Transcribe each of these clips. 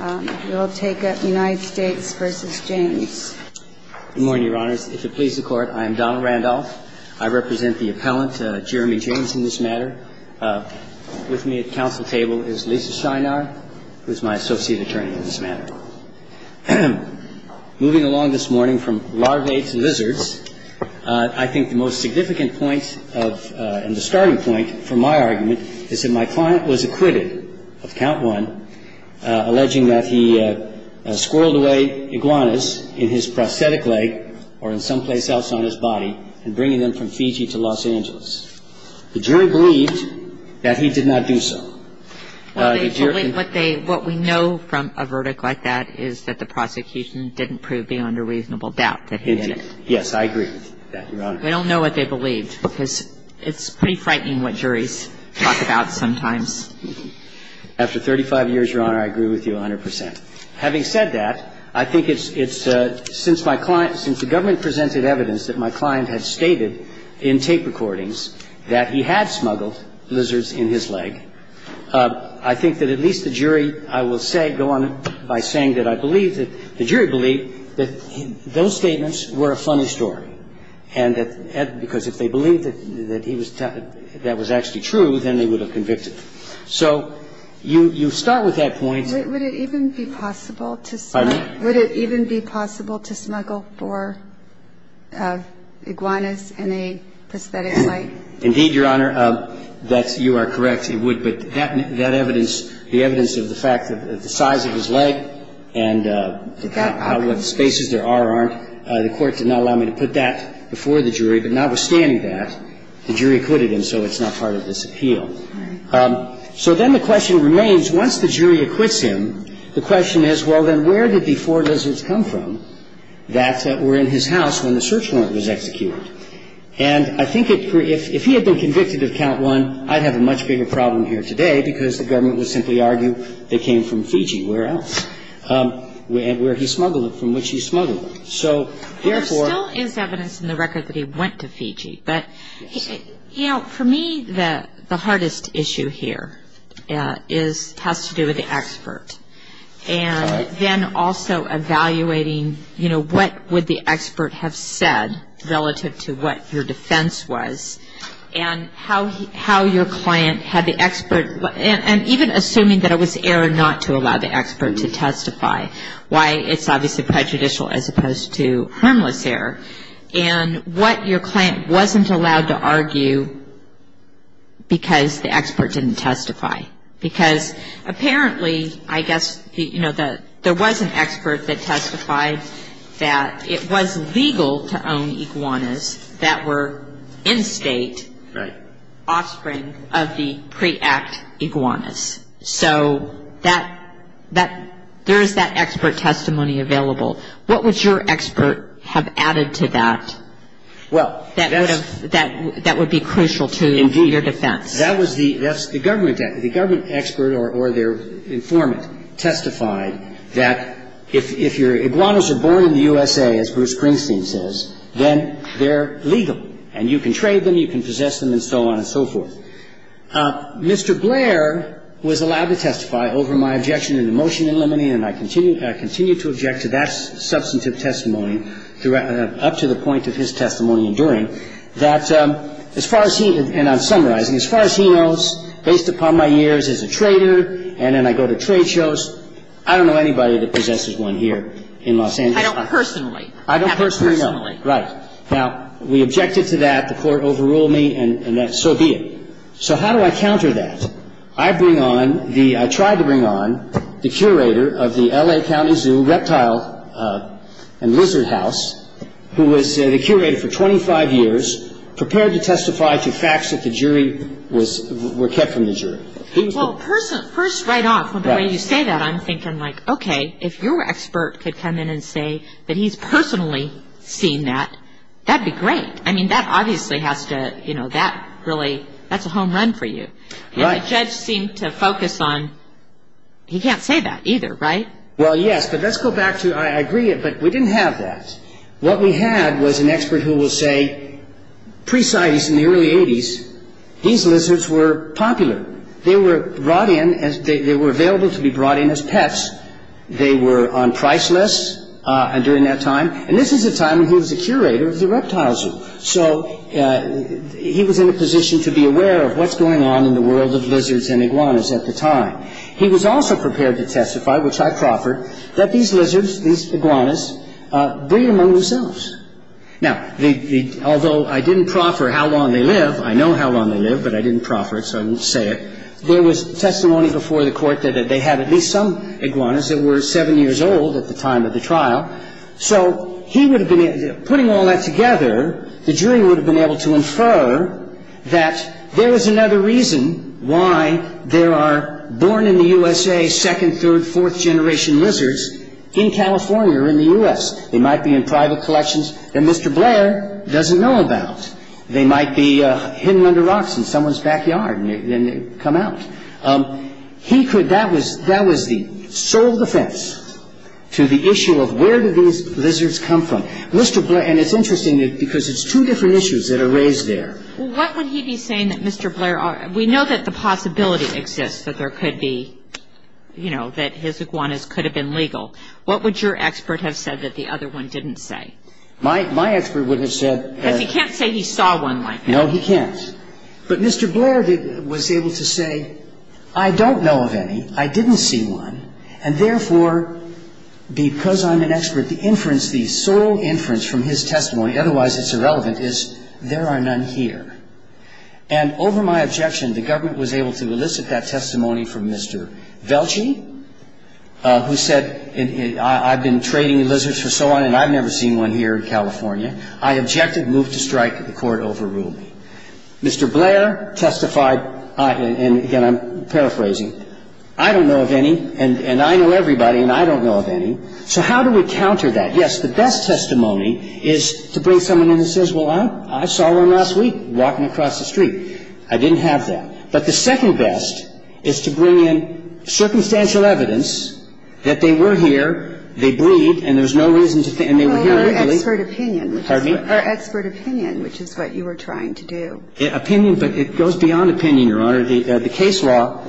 in this matter. With me at the council table is Lisa Shynard, who is my associate attorney in this matter. Moving along this morning from larvates to lizards, I think the most significant point of – and the starting point for my argument is that my client was acquitted of count one, and he was acquitted of count two, and he was acquitted Having said that, I think it's – since my client – since the government presented evidence that my client had stated in tape recordings that he had smuggled lizards in his leg, I think that at least the jury, I will say – go on by saying that I believe that – the jury believed that those statements were a funny story, and that – because if they believed that he was – that was actually true, then they would have convicted him. So you start with that point. But would it even be possible to smuggle – Pardon me? Would it even be possible to smuggle for iguanas in a prosthetic leg? Indeed, Your Honor, that's – you are correct. It would. But that evidence – the evidence of the fact that the size of his leg and how – what spaces there are or aren't, the court did not allow me to put that before the jury. But notwithstanding that, the jury acquitted him, so it's not part of this appeal. So then the question remains, once the jury acquits him, the question is, well, then where did the four lizards come from that were in his house when the search warrant was executed? And I think it – if he had been convicted of count one, I'd have a much bigger problem here today, because the government would simply argue they came from Fiji. Where else? Where he smuggled them, from which he smuggled them. So therefore – There still is evidence in the record that he went to Fiji. But, you know, for me, the hardest issue here is – has to do with the expert. And then also evaluating, you know, what would the expert have said relative to what your defense was, and how your client had the expert – and even assuming that it was error not to allow the expert to testify, why it's obviously prejudicial as opposed to harmless error, and what your client wasn't allowed to argue because the expert didn't testify. Because apparently, I guess, you know, there was an expert that testified that it was in-state offspring of the pre-act iguanas. So that – there is that expert testimony available. What would your expert have added to that that would be crucial to your defense? That was the – that's the government – the government expert or their informant testified that if your iguanas are born in the USA, as Bruce Springsteen says, then they're legal, and you can trade them, you can possess them, and so on and so forth. Mr. Blair was allowed to testify over my objection to the motion in limine, and I continue – I continue to object to that substantive testimony up to the point of his testimony enduring, that as far as he – and I'm summarizing – as far as he knows, based upon my years as a trader, and then I go to trade shows, I don't know anybody that possesses one here in Los Angeles. I don't personally. I don't personally know. I haven't personally. Right. Now, we objected to that. The Court overruled me, and so be it. So how do I counter that? I bring on the – I tried to bring on the curator of the L.A. County Zoo Reptile and Lizard House, who was the curator for 25 years, prepared to testify to facts that the jury was – were kept from the jury. Well, first right off, from the way you say that, I'm thinking, like, okay, if your expert could come in and say that he's personally seen that, that'd be great. I mean, that obviously has to – you know, that really – that's a home run for you. Right. And the judge seemed to focus on – he can't say that either, right? Well, yes, but let's go back to – I agree, but we didn't have that. What we had was an expert who will say, pre-Cites, in the early 80s, these lizards were popular. They were brought in as – they were available to be brought in as pets. They were on price lists during that time, and this is a time when he was the curator of the reptile zoo. So he was in a position to be aware of what's going on in the world of lizards and iguanas at the time. He was also prepared to testify, which I proffered, that these lizards, these Now, the – although I didn't proffer how long they live – I know how long they live, but I didn't proffer it, so I won't say it – there was testimony before the court that they had at least some iguanas that were seven years old at the time of the trial. So he would have been – putting all that together, the jury would have been able to infer that there is another reason why there are born-in-the-USA, second, third, fourth-generation lizards in California or in the U.S. They might be in private collections. And Mr. Blair doesn't know about. They might be hidden under rocks in someone's backyard, and they come out. He could – that was – that was the sole defense to the issue of where do these lizards come from. Mr. Blair – and it's interesting, because it's two different issues that are raised there. Well, what would he be saying that Mr. Blair – we know that the possibility exists that there could be – you know, that his iguanas could have been legal. What would your expert have said that the other one didn't say? My – my expert would have said that – Because he can't say he saw one like that. No, he can't. But Mr. Blair was able to say, I don't know of any, I didn't see one, and therefore, because I'm an expert, the inference – the sole inference from his testimony, otherwise it's irrelevant, is there are none here. And over my objection, the government was able to elicit that testimony from Mr. Velchey, who said, I've been trading lizards for so long, and I've never seen one here in California. I objected, moved to strike, the court overruled me. Mr. Blair testified – and again, I'm paraphrasing – I don't know of any, and I know everybody, and I don't know of any. So how do we counter that? Yes, the best testimony is to bring someone in who says, well, I saw one last week walking across the street. I didn't have that. But the second best is to bring in circumstantial evidence that they were here, they breathe, and there's no reason to – and they were here illegally. Well, or expert opinion. Pardon me? Or expert opinion, which is what you were trying to do. Opinion, but it goes beyond opinion, Your Honor. The case law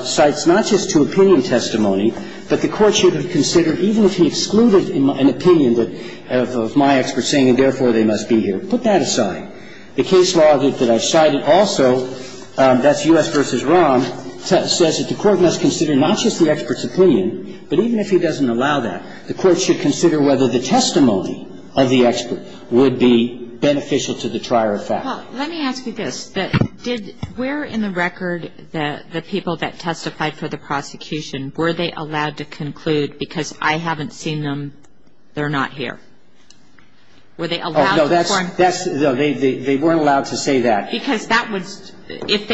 cites not just to opinion testimony, but the court should have considered, even if he excluded an opinion that – of my expert saying, and therefore they must be here. Put that aside. The case law that I cited also, that's U.S. v. Rahm, says that the court must consider not just the expert's opinion, but even if he doesn't allow that, the court should consider whether the testimony of the expert would be beneficial to the trier of fact. Well, let me ask you this. Did – where in the record the people that testified for the prosecution, were they allowed to conclude, because I haven't seen them, they're not here? Were they allowed to confirm? Oh, no, that's – no, they weren't allowed to say that. Because that was – if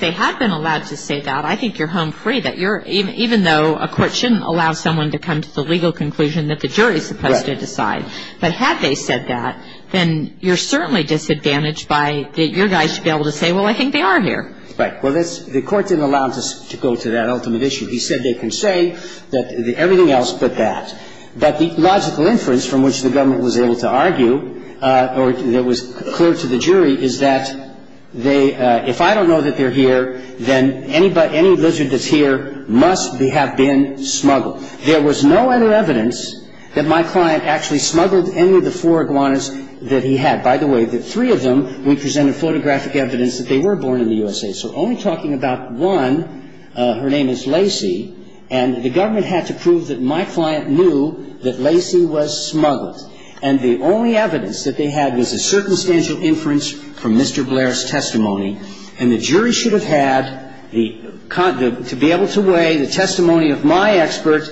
they had been allowed to say that, I think you're home free, that you're – even though a court shouldn't allow someone to come to the legal conclusion that the jury is supposed to decide. Right. But had they said that, then you're certainly disadvantaged by – that your guys should be able to say, well, I think they are here. Right. Well, that's – the court didn't allow them to go to that ultimate issue. He said they can say that – everything else but that. But the logical inference from which the government was able to argue, or that was clear to the jury, is that they – if I don't know that they're here, then any lizard that's here must have been smuggled. There was no other evidence that my client actually smuggled any of the four iguanas that he had. By the way, the three of them, we presented photographic evidence that they were born in the USA. So only talking about one, her name is Lacy, and the government had to prove that my client knew that Lacy was smuggled. And the only evidence that they had was a circumstantial inference from Mr. Blair's testimony. And the jury should have had the – to be able to weigh the testimony of my expert,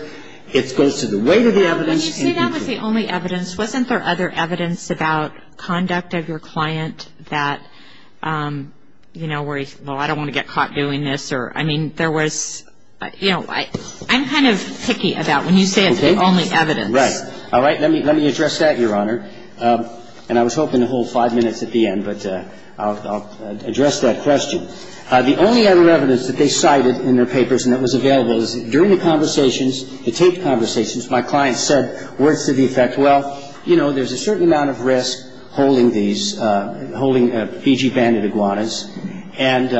it goes to the weight of the evidence. When you say that was the only evidence, wasn't there other evidence about conduct of your client that, you know, where he – well, I don't want to get caught doing this, or – I mean, there was – you know, I'm kind of picky about when you say it's the only evidence. Right. All right. Let me address that, Your Honor. And I was hoping to hold five minutes at the end, but I'll address that question. The only other evidence that they cited in their papers and that was available is during the conversations, the taped conversations, my client said words to the effect, well, you know, there's a certain amount of risk holding these – holding Fiji-banded iguanas. And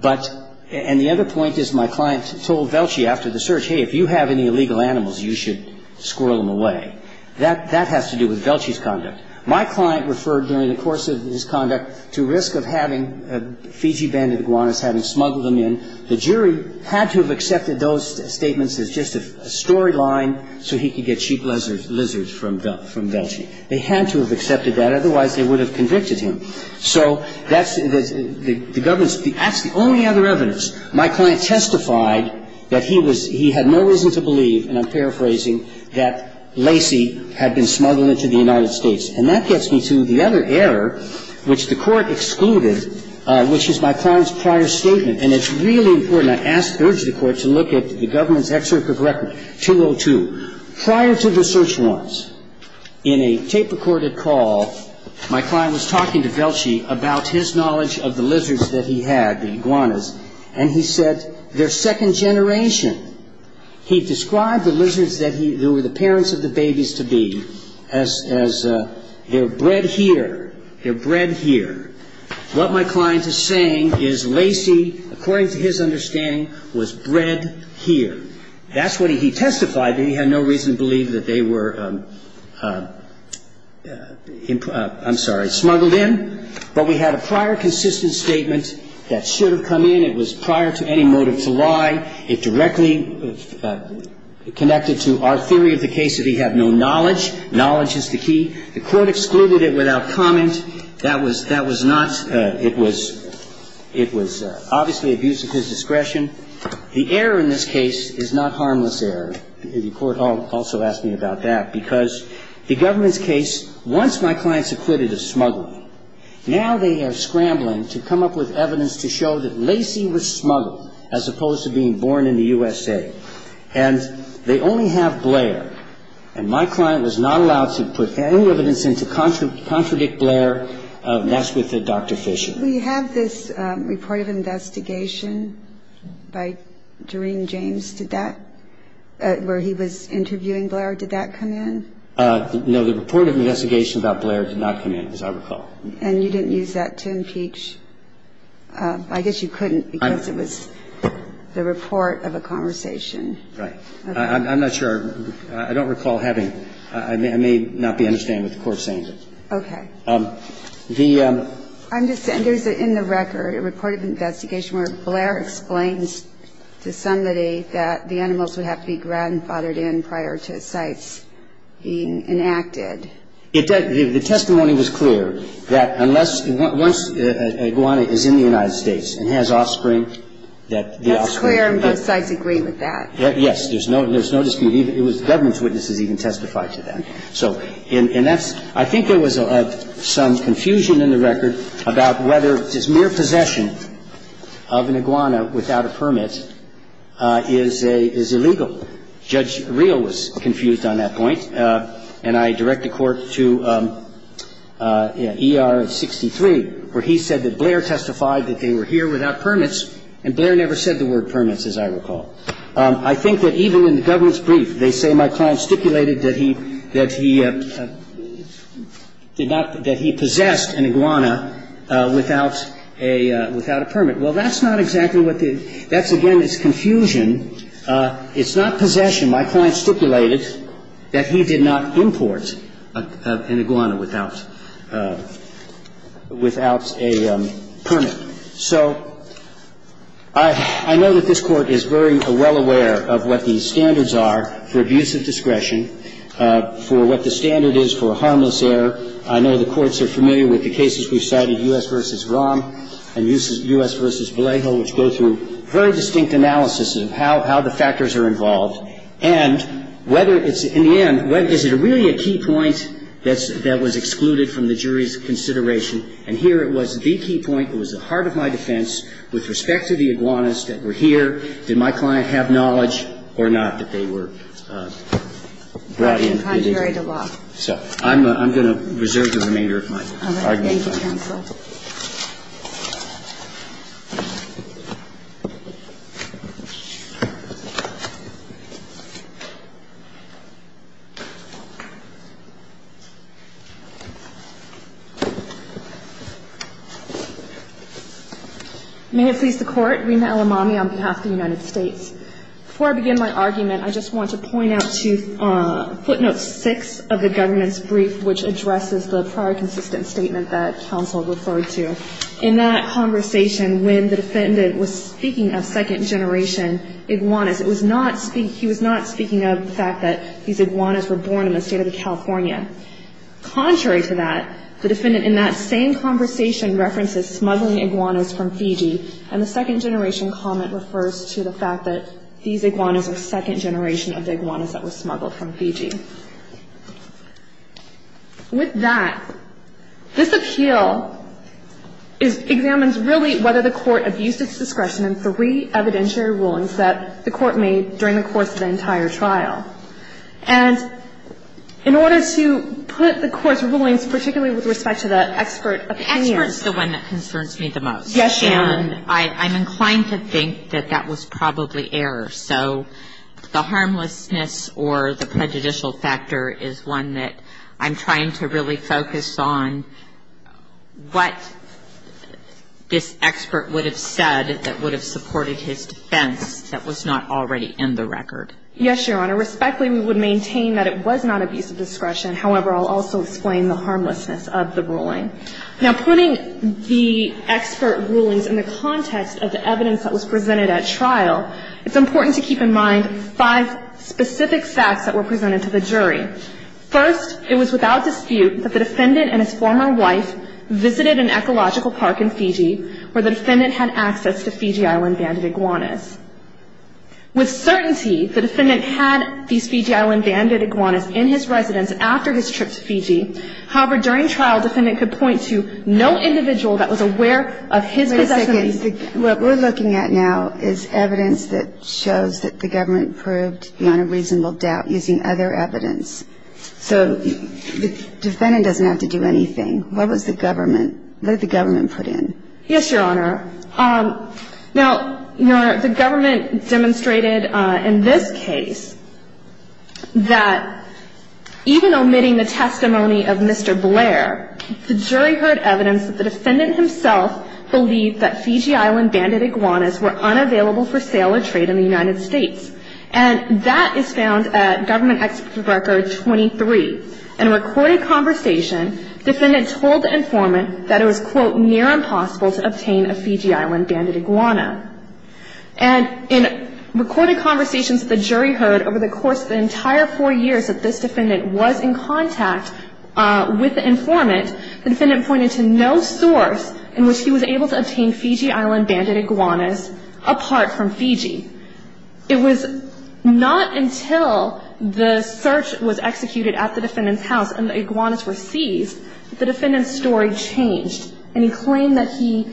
– but – and the other point is my client told Velchey after the search, hey, if you have any illegal animals, you should squirrel them away. That has to do with Velchey's conduct. My client referred during the course of his conduct to risk of having Fiji-banded iguanas, having smuggled them in. The jury had to have accepted those statements as just a storyline so he could get cheap lizards from Velchey. They had to have accepted that. Otherwise, they would have convicted him. So that's – the government's – that's the only other evidence. My client testified that he was – he had no reason to believe, and I'm paraphrasing, that Lacey had been smuggled into the United States. And that gets me to the other error, which the Court excluded, which is my client's prior statement. And it's really important. I ask – urge the Court to look at the government's excerpt of record, 202. Prior to the search warrants, in a tape-recorded call, my client was talking to Velchey about his knowledge of the lizards that he had, the iguanas, and he said, they're second generation. He described the lizards that he – who were the parents of the babies to be as they're bred here. They're bred here. What my client is saying is Lacey, according to his understanding, was bred here. That's what he testified. He had no reason to believe that they were – I'm sorry – smuggled in. But we had a prior consistent statement that should have come in. It was prior to any motive to lie. It directly connected to our theory of the case that he had no knowledge. Knowledge is the key. The Court excluded it without comment. That was not – it was – it was obviously abuse of his discretion. The error in this case is not harmless error. The Court also asked me about that because the government's case, once my client's acquitted of smuggling, now they are scrambling to come up with evidence to show that Lacey was smuggled, as opposed to being born in the USA. And they only have Blair. And my client was not allowed to put any evidence in to contradict Blair. And that's with Dr. Fisher. We have this report of investigation by Doreen James. Did that – where he was interviewing Blair, did that come in? No. The report of investigation about Blair did not come in, as I recall. And you didn't use that to impeach – I guess you couldn't because it was the report of a conversation. Right. I'm not sure. I don't recall having – I may not be understanding what the Court's saying. Okay. The – I'm just saying there's in the record a report of investigation where Blair explains to somebody that the animals would have to be grandfathered in prior to sites being enacted. The testimony was clear that unless – once an iguana is in the United States and has offspring, that the offspring – That's clear and both sides agree with that. Yes. There's no – there's no dispute. It was – the government's witnesses even testified to that. So – and that's – I think there was some confusion in the record about whether this mere possession of an iguana without a permit is illegal. Judge Real was confused on that point. And I direct the Court to ER 63, where he said that Blair testified that they were here without permits, and Blair never said the word permits, as I recall. I think that even in the government's brief, they say, My client stipulated that he – that he did not – that he possessed an iguana without a – without a permit. Well, that's not exactly what the – that's, again, it's confusion. It's not possession. My client stipulated that he did not import an iguana without – without a permit. So I – I know that this Court is very well aware of what the standards are for abuse of discretion, for what the standard is for harmless error. I know the courts are familiar with the cases we've cited, U.S. v. Rahm and U.S. v. Vallejo, which go through very distinct analysis of how – how the factors are involved. And whether it's – in the end, is it really a key point that's – that was excluded from the jury's consideration? And here it was the key point. It was the heart of my defense with respect to the iguanas that were here. Did my client have knowledge or not that they were brought in? Contrary to law. So I'm going to reserve the remainder of my argument. Thank you, counsel. May it please the Court. Rina Elamami on behalf of the United States. Before I begin my argument, I just want to point out to footnote 6 of the government's brief, which addresses the prior consistent statement that counsel referred to. In that conversation, when the defendant was speaking of second-generation iguanas, it was not – he was not speaking of the fact that these iguanas were born in the State of California. Contrary to that, the defendant in that same conversation references smuggling iguanas from Fiji, and the second-generation comment refers to the fact that these iguanas are second-generation of the iguanas that were smuggled from Fiji. With that, this appeal is – examines really whether the Court abused its discretion in three evidentiary rulings that the Court made during the course of the entire trial. And in order to put the Court's rulings, particularly with respect to the expert opinion. Experts is the one that concerns me the most. Yes, Your Honor. And I'm inclined to think that that was probably error. So the harmlessness or the prejudicial factor is one that I'm trying to really focus on what this expert would have said that would have supported his defense that was not already in the record. Yes, Your Honor. Respectfully, we would maintain that it was not abuse of discretion. However, I'll also explain the harmlessness of the ruling. Now, putting the expert rulings in the context of the evidence that was presented at trial, it's important to keep in mind five specific facts that were presented to the jury. First, it was without dispute that the defendant and his former wife visited an ecological park in Fiji where the defendant had access to Fiji Island-banded iguanas. With certainty, the defendant had these Fiji Island-banded iguanas in his residence after his trip to Fiji. However, during trial, the defendant could point to no individual that was aware of his possession of these. Wait a second. What we're looking at now is evidence that shows that the government proved beyond a reasonable doubt using other evidence. So the defendant doesn't have to do anything. What was the government, what did the government put in? Yes, Your Honor. Now, Your Honor, the government demonstrated in this case that even omitting the testimony of Mr. Blair, the jury heard evidence that the defendant himself believed that Fiji Island-banded iguanas were unavailable for sale or trade in the United States. And that is found at Government Expert Record 23. In a recorded conversation, the defendant told the informant that it was, quote, impossible to obtain a Fiji Island-banded iguana. And in recorded conversations with the jury heard over the course of the entire four years that this defendant was in contact with the informant, the defendant pointed to no source in which he was able to obtain Fiji Island-banded iguanas apart from Fiji. It was not until the search was executed at the defendant's house and the iguanas were seized that the defendant's story changed and he claimed that he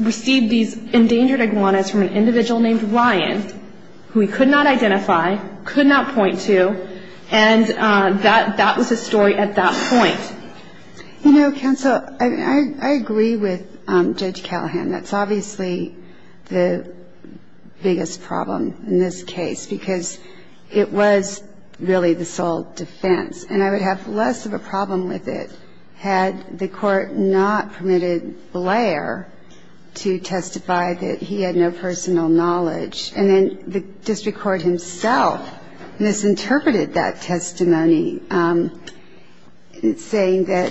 received these endangered iguanas from an individual named Ryan who he could not identify, could not point to, and that was his story at that point. You know, counsel, I agree with Judge Callahan. That's obviously the biggest problem in this case because it was really the sole defense, and I would have less of a problem with it had the court not permitted Blair to testify that he had no personal knowledge. And then the district court himself misinterpreted that testimony, saying that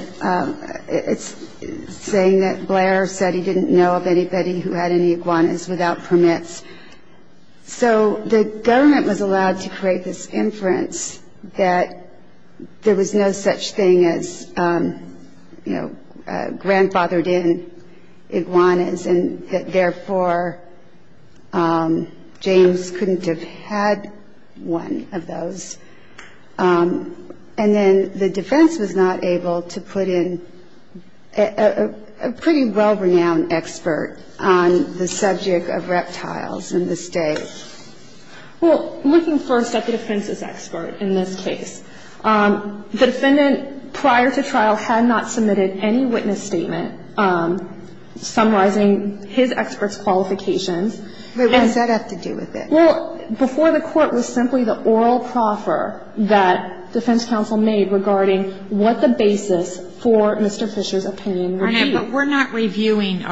Blair said he didn't know of anybody who had any iguanas without permits. So the government was allowed to create this inference that there was no such thing as, you know, grandfathered in iguanas, and that therefore James couldn't have had one of those. And then the defense was not able to put in a pretty well-renowned expert on the subject of reptiles in this case. Well, looking first at the defense's expert in this case, the defendant prior to trial had not submitted any witness statement summarizing his expert's qualifications. But what does that have to do with it? Well, before the Court, it was simply the oral proffer that defense counsel made regarding what the basis for Mr. Fisher's opinion would be. But we're not reviewing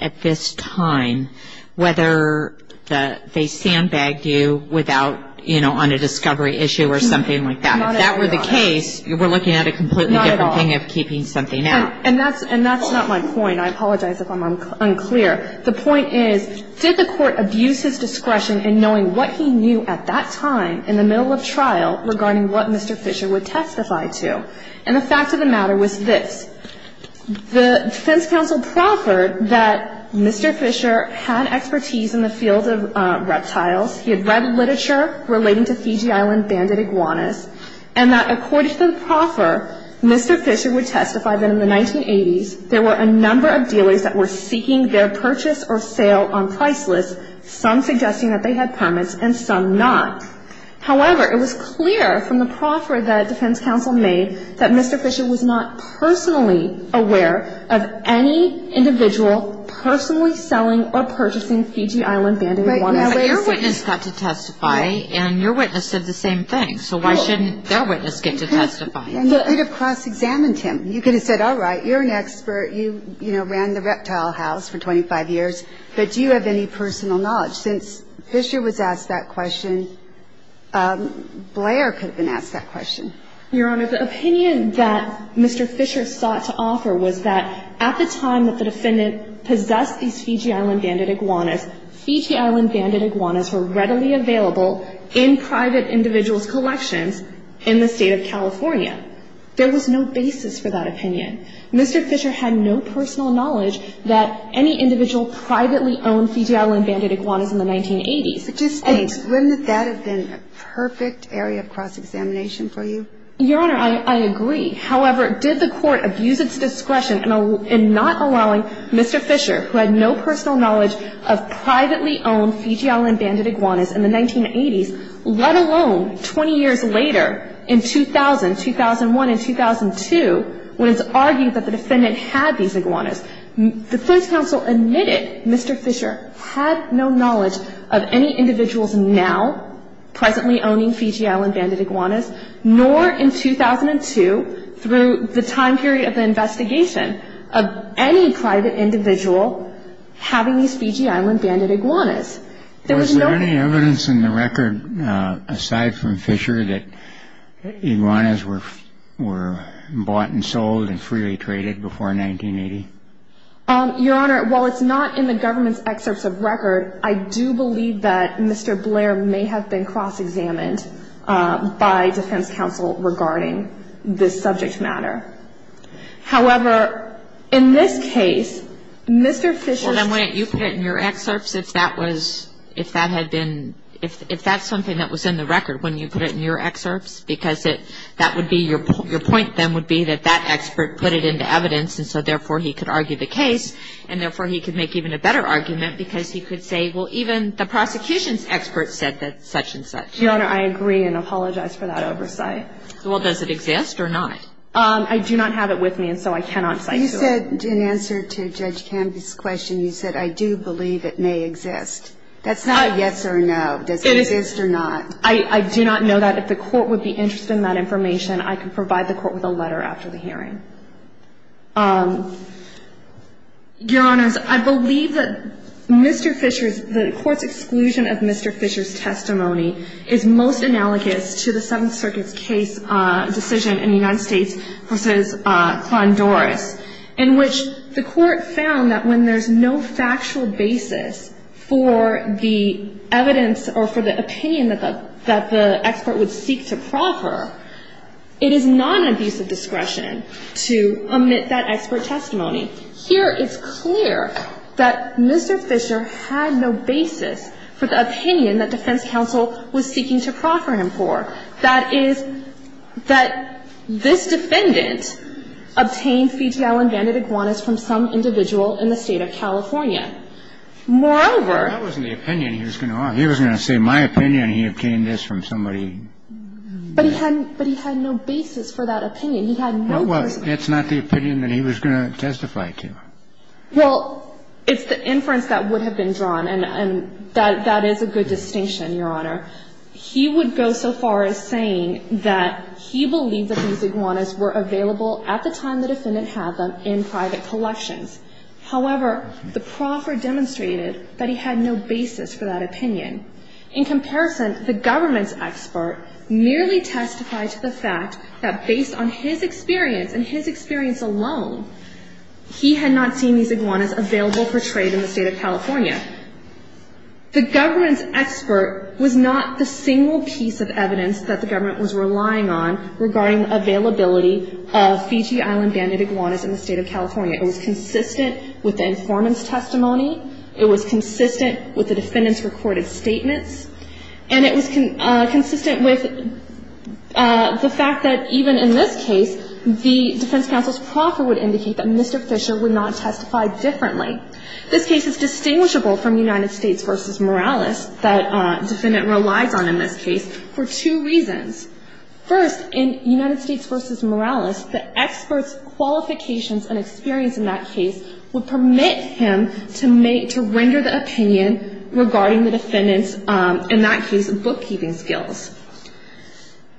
at this time whether they sandbagged you without, you know, on a discovery issue or something like that. If that were the case, we're looking at a completely different thing of keeping something out. And that's not my point. I apologize if I'm unclear. The point is, did the court abuse his discretion in knowing what he knew at that time in the middle of trial regarding what Mr. Fisher would testify to? And the fact of the matter was this. The defense counsel proffered that Mr. Fisher had expertise in the field of reptiles. He had read literature relating to Fiji Island banded iguanas. And that according to the proffer, Mr. Fisher would testify that in the 1980s, there were a number of dealers that were seeking their purchase or sale on Priceless, some suggesting that they had permits and some not. However, it was clear from the proffer that defense counsel made that Mr. Fisher was not personally aware of any individual personally selling or purchasing Fiji Island banded iguanas. But your witness got to testify, and your witness said the same thing. So why shouldn't their witness get to testify? And you could have cross-examined him. You could have said, all right, you're an expert. You, you know, ran the reptile house for 25 years. But do you have any personal knowledge? Since Fisher was asked that question, Blair could have been asked that question. Your Honor, the opinion that Mr. Fisher sought to offer was that at the time that the defendant possessed these Fiji Island banded iguanas, Fiji Island banded iguanas were readily available in private individuals' collections in the State of California. There was no basis for that opinion. Mr. Fisher had no personal knowledge that any individual privately owned Fiji Island banded iguanas in the 1980s. But just think, wouldn't that have been a perfect area of cross-examination for you? Your Honor, I agree. However, did the Court abuse its discretion in not allowing Mr. Fisher, who had no personal knowledge of privately owned Fiji Island banded iguanas in the 1980s, let alone 20 years later in 2000, 2001, and 2002, when it's argued that the defendant had these iguanas? The First Counsel admitted Mr. Fisher had no knowledge of any individuals now presently owning Fiji Island banded iguanas, nor in 2002, through the time period of the investigation, of any private individual having these Fiji Island banded iguanas. There was no evidence. Was there any evidence in the record, aside from Fisher, that iguanas were bought and sold and freely traded before 1980? Your Honor, while it's not in the government's excerpts of record, I do believe that Mr. Blair may have been cross-examined by defense counsel regarding this subject matter. However, in this case, Mr. Fisher's ---- Well, then, wouldn't you put it in your excerpts if that had been ---- Your Honor, I agree and apologize for that oversight. Well, does it exist or not? I do not have it with me, and so I cannot cite to it. You said, in answer to Judge Canby's question, you said, I do believe it may exist. That's not a yes or no. It is. Does it exist or not? I do believe it may exist. I do not know that. If the Court would be interested in that information, I can provide the Court with a letter after the hearing. Your Honors, I believe that Mr. Fisher's ---- the Court's exclusion of Mr. Fisher's testimony is most analogous to the Seventh Circuit's case decision in the United States v. Klondoris, in which the Court found that when there's no factual basis for the evidence or for the opinion that the expert would seek to proffer, it is non-abusive discretion to omit that expert testimony. Here, it's clear that Mr. Fisher had no basis for the opinion that defense counsel was seeking to proffer him for. That is, that this defendant obtained fetal and banded iguanas from some individual in the State of California. Moreover ---- That wasn't the opinion he was going to want. He was going to say, my opinion, he obtained this from somebody. But he had no basis for that opinion. He had no ---- Well, it's not the opinion that he was going to testify to. Well, it's the inference that would have been drawn, and that is a good distinction, Your Honor. He would go so far as saying that he believed that these iguanas were available at the time the defendant had them in private collections. However, the proffer demonstrated that he had no basis for that opinion. In comparison, the government's expert merely testified to the fact that, based on his experience and his experience alone, he had not seen these iguanas available for trade in the State of California. The government's expert was not the single piece of evidence that the government was relying on regarding availability of Fiji Island banded iguanas in the State of California. It was consistent with the informant's testimony. It was consistent with the defendant's recorded statements. And it was consistent with the fact that even in this case, the defense counsel's proffer would indicate that Mr. Fisher would not testify differently. This case is distinguishable from United States v. Morales, that the defendant relies on in this case, for two reasons. First, in United States v. Morales, the expert's qualifications and experience in that case would permit him to render the opinion regarding the defendant's, in that case, bookkeeping skills.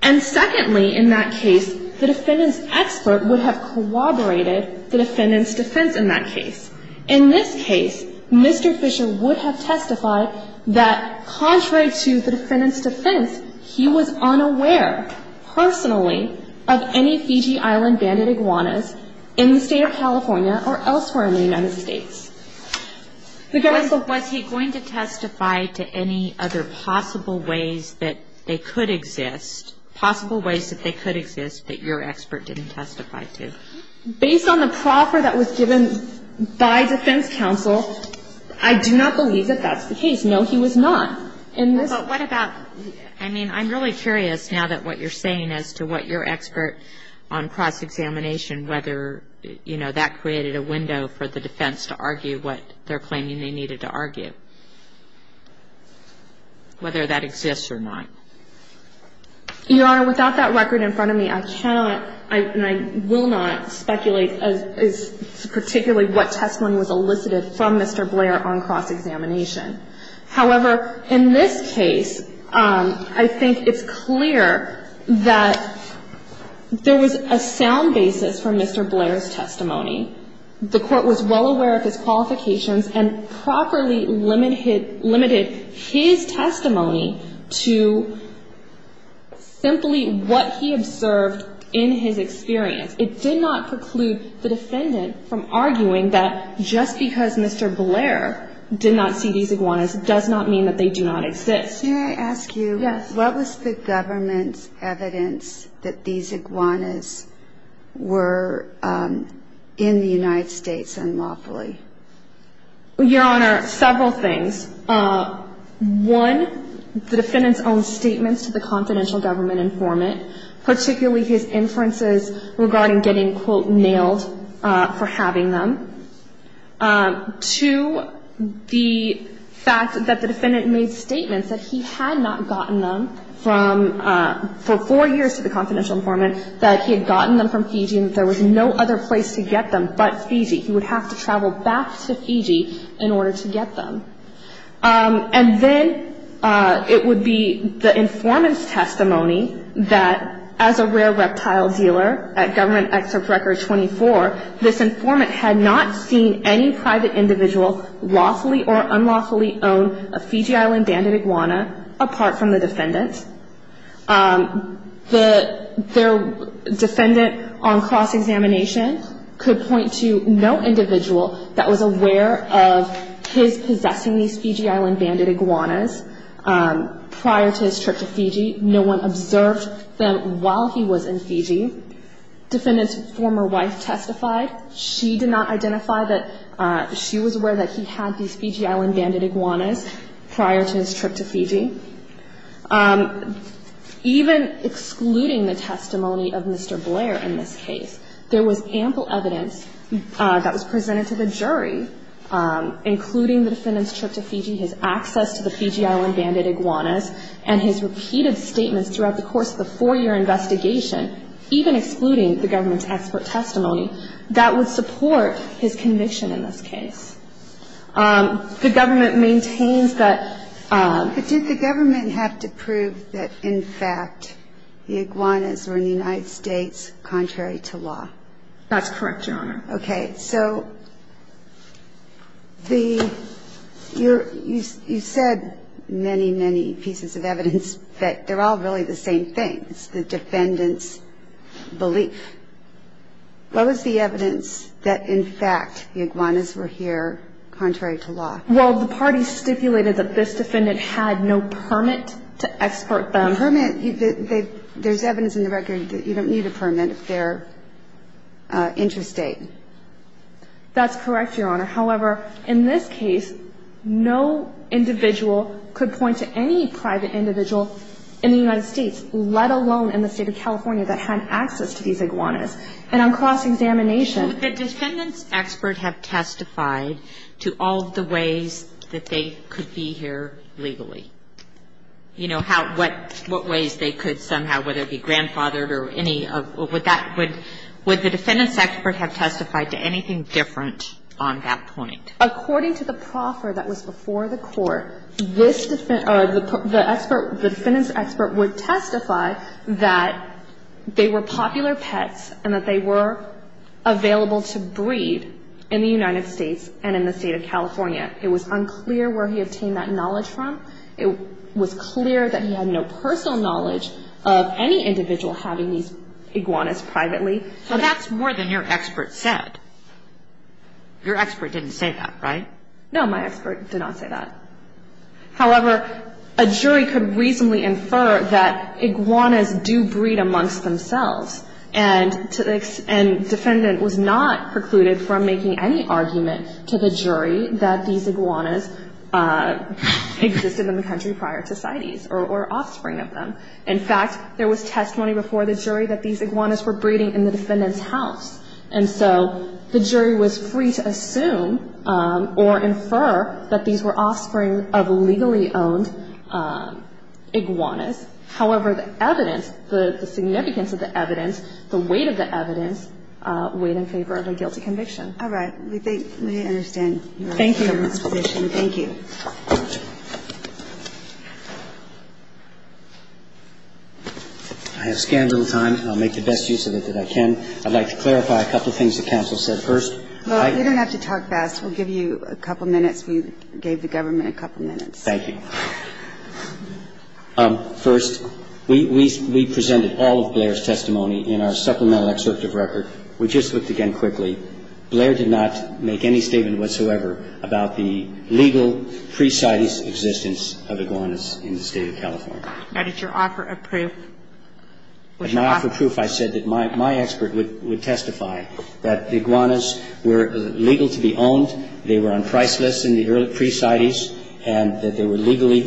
And secondly, in that case, the defendant's expert would have corroborated the defendant's defense in that case. In this case, Mr. Fisher would have testified that, contrary to the defendant's defense, he was unaware, personally, of any Fiji Island banded iguanas in the State of California or elsewhere in the United States. The garrison ---- Was he going to testify to any other possible ways that they could exist, possible ways that they could exist that your expert didn't testify to? Based on the proffer that was given by defense counsel, I do not believe that that's the case. No, he was not. But what about ---- I mean, I'm really curious now that what you're saying as to what your expert on cross-examination, whether, you know, that created a window for the defense to argue what they're claiming they needed to argue, whether that exists or not. Your Honor, without that record in front of me, I cannot, and I will not speculate particularly what testimony was elicited from Mr. Blair on cross-examination. However, in this case, I think it's clear that there was a sound basis for Mr. Blair's testimony. The Court was well aware of his qualifications and properly limited his testimony to simply what he observed in his experience. It did not preclude the defendant from arguing that just because Mr. Blair did not see these iguanas does not mean that they do not exist. May I ask you what was the government's evidence that these iguanas were in the United States unlawfully? Your Honor, several things. One, the defendant's own statements to the confidential government informant, particularly his inferences regarding getting, quote, having them, to the fact that the defendant made statements that he had not gotten them from, for four years to the confidential informant, that he had gotten them from Fiji and that there was no other place to get them but Fiji. He would have to travel back to Fiji in order to get them. And then it would be the informant's testimony that as a rare reptile dealer at Government Excerpt Record 24, this informant had not seen any private individual lawfully or unlawfully own a Fiji Island banded iguana apart from the defendant. The defendant on cross-examination could point to no individual that was aware of his possessing these Fiji Island banded iguanas prior to his trip to Fiji. Defendant's former wife testified. She did not identify that she was aware that he had these Fiji Island banded iguanas prior to his trip to Fiji. Even excluding the testimony of Mr. Blair in this case, there was ample evidence that was presented to the jury, including the defendant's trip to Fiji, his access to the Fiji Island banded iguanas, and his repeated statements throughout the course of the four-year investigation, even excluding the government's expert testimony, that would support his conviction in this case. The government maintains that... But did the government have to prove that, in fact, the iguanas were in the United States contrary to law? That's correct, Your Honor. Okay. So you said many, many pieces of evidence, but they're all really the same thing. It's the defendant's belief. What was the evidence that, in fact, the iguanas were here contrary to law? Well, the parties stipulated that this defendant had no permit to export them. The permit, there's evidence in the record that you don't need a permit if they're That's correct, Your Honor. However, in this case, no individual could point to any private individual in the United States, let alone in the state of California, that had access to these iguanas. And on cross-examination... Would the defendant's expert have testified to all of the ways that they could be here legally? You know, what ways they could somehow, whether it be grandfathered or any of... Would the defendant's expert have testified to anything different on that point? According to the proffer that was before the court, the defendant's expert would testify that they were popular pets and that they were available to breed in the United States and in the state of California. It was unclear where he obtained that knowledge from. It was clear that he had no personal knowledge of any individual having these iguanas privately. So that's more than your expert said. Your expert didn't say that, right? No, my expert did not say that. However, a jury could reasonably infer that iguanas do breed amongst themselves. And defendant was not precluded from making any argument to the jury that these iguanas existed in the country prior to CITES or offspring of them. In fact, there was testimony before the jury that these iguanas were breeding in the defendant's house. And so the jury was free to assume or infer that these were offspring of legally owned iguanas. However, the evidence, the significance of the evidence, the weight of the evidence, weighed in favor of a guilty conviction. All right. We think we understand your position. Thank you. I have scant little time. I'll make the best use of it that I can. I'd like to clarify a couple things the counsel said first. Well, you don't have to talk fast. We'll give you a couple minutes. We gave the government a couple minutes. Thank you. First, we presented all of Blair's testimony in our supplemental excerpt of record. We just looked again quickly. We looked again quickly. Blair did not make any statement whatsoever about the legal pre-CITES existence of iguanas in the State of California. Now, did your offer of proof? In my offer of proof, I said that my expert would testify that the iguanas were legal to be owned, they were unpriceless in the early pre-CITES, and that they were legally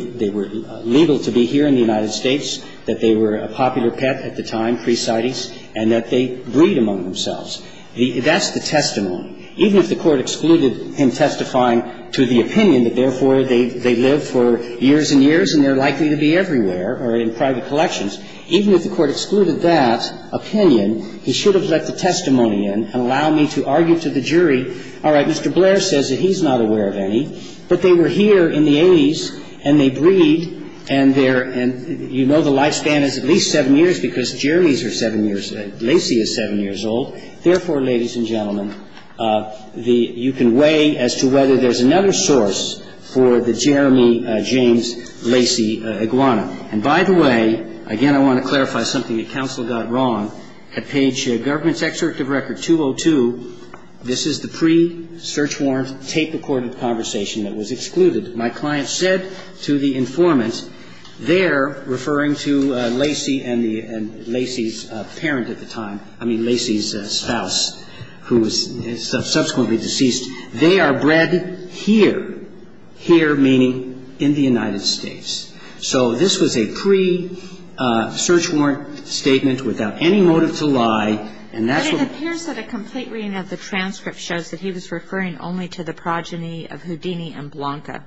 – that's the testimony. Even if the Court excluded him testifying to the opinion that, therefore, they live for years and years and they're likely to be everywhere or in private collections, even if the Court excluded that opinion, he should have let the testimony in and allowed me to argue to the jury, all right, Mr. Blair says that he's not aware of any, but they were here in the 80s and they breed and they're – and you know the lifespan is at least seven years because Jerry's are seven years – Lacy is seven years old. Therefore, ladies and gentlemen, the – you can weigh as to whether there's another source for the Jeremy James Lacy iguana. And by the way, again, I want to clarify something that counsel got wrong. At page – Government's Excerpt of Record 202, this is the pre-search warrant, tape-recorded conversation that was excluded. My client said to the informant there, referring to Lacy and the – and Lacy's parent at the time – I mean, Lacy's spouse, who was subsequently deceased, they are bred here. Here meaning in the United States. So this was a pre-search warrant statement without any motive to lie, and that's what – But it appears that a complete reading of the transcript shows that he was referring only to the progeny of Houdini and Blanca.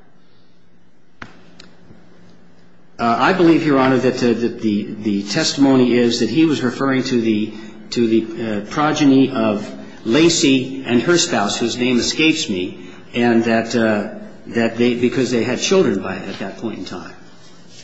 I believe, Your Honor, that the testimony is that he was referring to the – to the progeny of Lacy and her spouse, whose name escapes me, and that they – because they had children by – at that point in time.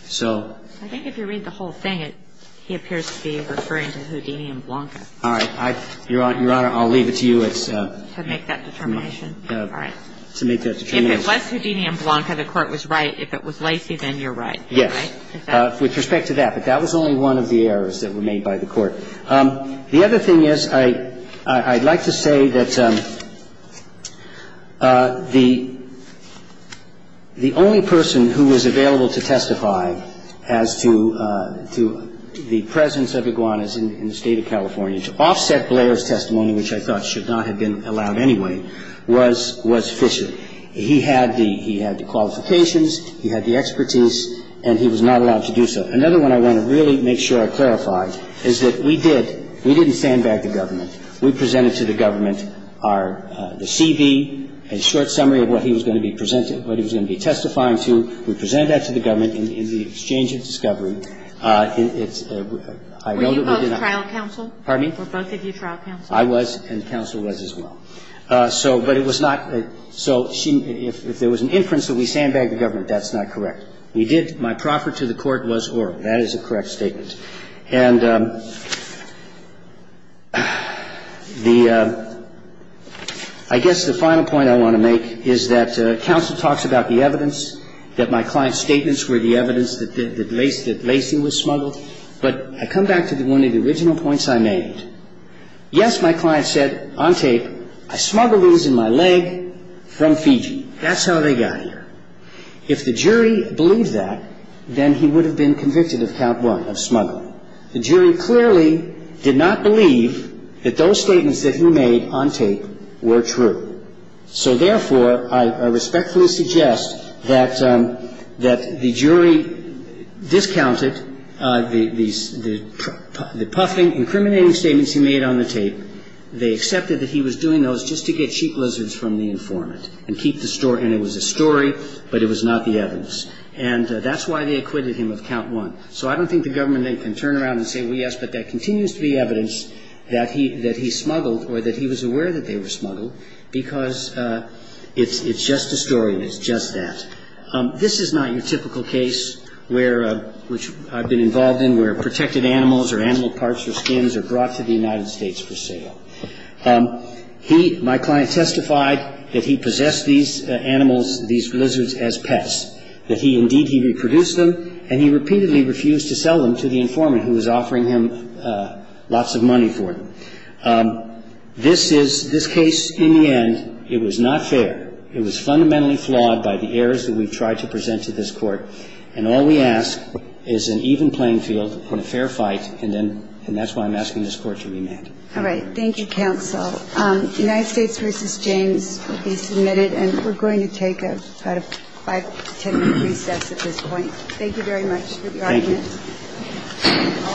So – I think if you read the whole thing, it – he appears to be referring to Houdini and Blanca. All right. I – Your Honor, I'll leave it to you. It's – To make that determination. All right. To make that determination. If it was Houdini and Blanca, the Court was right. If it was Lacy, then you're right. Yes. With respect to that. But that was only one of the errors that were made by the Court. The other thing is, I'd like to say that the only person who was available to testify as to the presence of Iguanas in the State of California testimony, which I thought should not have been allowed anyway, was – was Fisher. He had the – he had the qualifications, he had the expertise, and he was not allowed to do so. Another one I want to really make sure I clarify is that we did – we didn't sandbag the government. We presented to the government our – the CV, a short summary of what he was going to be presented – what he was going to be testifying to. We presented that to the government in the exchange of discovery. It's – I know that we did not – Were you both trial counsel? Pardon me? Were both of you trial counsel? I was, and counsel was as well. So – but it was not – so if there was an inference that we sandbagged the government, that's not correct. We did – my proffer to the Court was oral. That is a correct statement. And the – I guess the final point I want to make is that counsel talks about the evidence, that my client's statements were the evidence that Lacy was smuggled. But I come back to one of the original points I made. Yes, my client said on tape, I smuggled these in my leg from Fiji. That's how they got here. If the jury believed that, then he would have been convicted of count one, of smuggling. The jury clearly did not believe that those statements that he made on tape were true. So therefore, I respectfully suggest that the jury discounted the puffing, incriminating statements he made on the tape. They accepted that he was doing those just to get cheap lizards from the informant and keep the story – and it was a story, but it was not the evidence. And that's why they acquitted him of count one. So I don't think the government can turn around and say, well, yes, but there continues to be evidence that he smuggled or that he was aware that they were smuggled because it's just a story and it's just that. This is not your typical case where – which I've been involved in where protected animals or animal parts or skins are brought to the United States for sale. He – my client testified that he possessed these animals, these lizards, as pets, that he – indeed, he reproduced them, and he repeatedly refused to sell them to the informant who was offering him lots of money for them. This is – this case, in the end, it was not fair. It was fundamentally flawed by the errors that we've tried to present to this Court. And all we ask is an even playing field and a fair fight, and then – and that's why I'm asking this Court to remand. All right. Thank you, counsel. United States v. James will be submitted, and we're going to take about a five-to-10-minute recess at this point. Thank you very much for the argument. Thank you. All rise. This Court is adjourned at a 10-minute recess.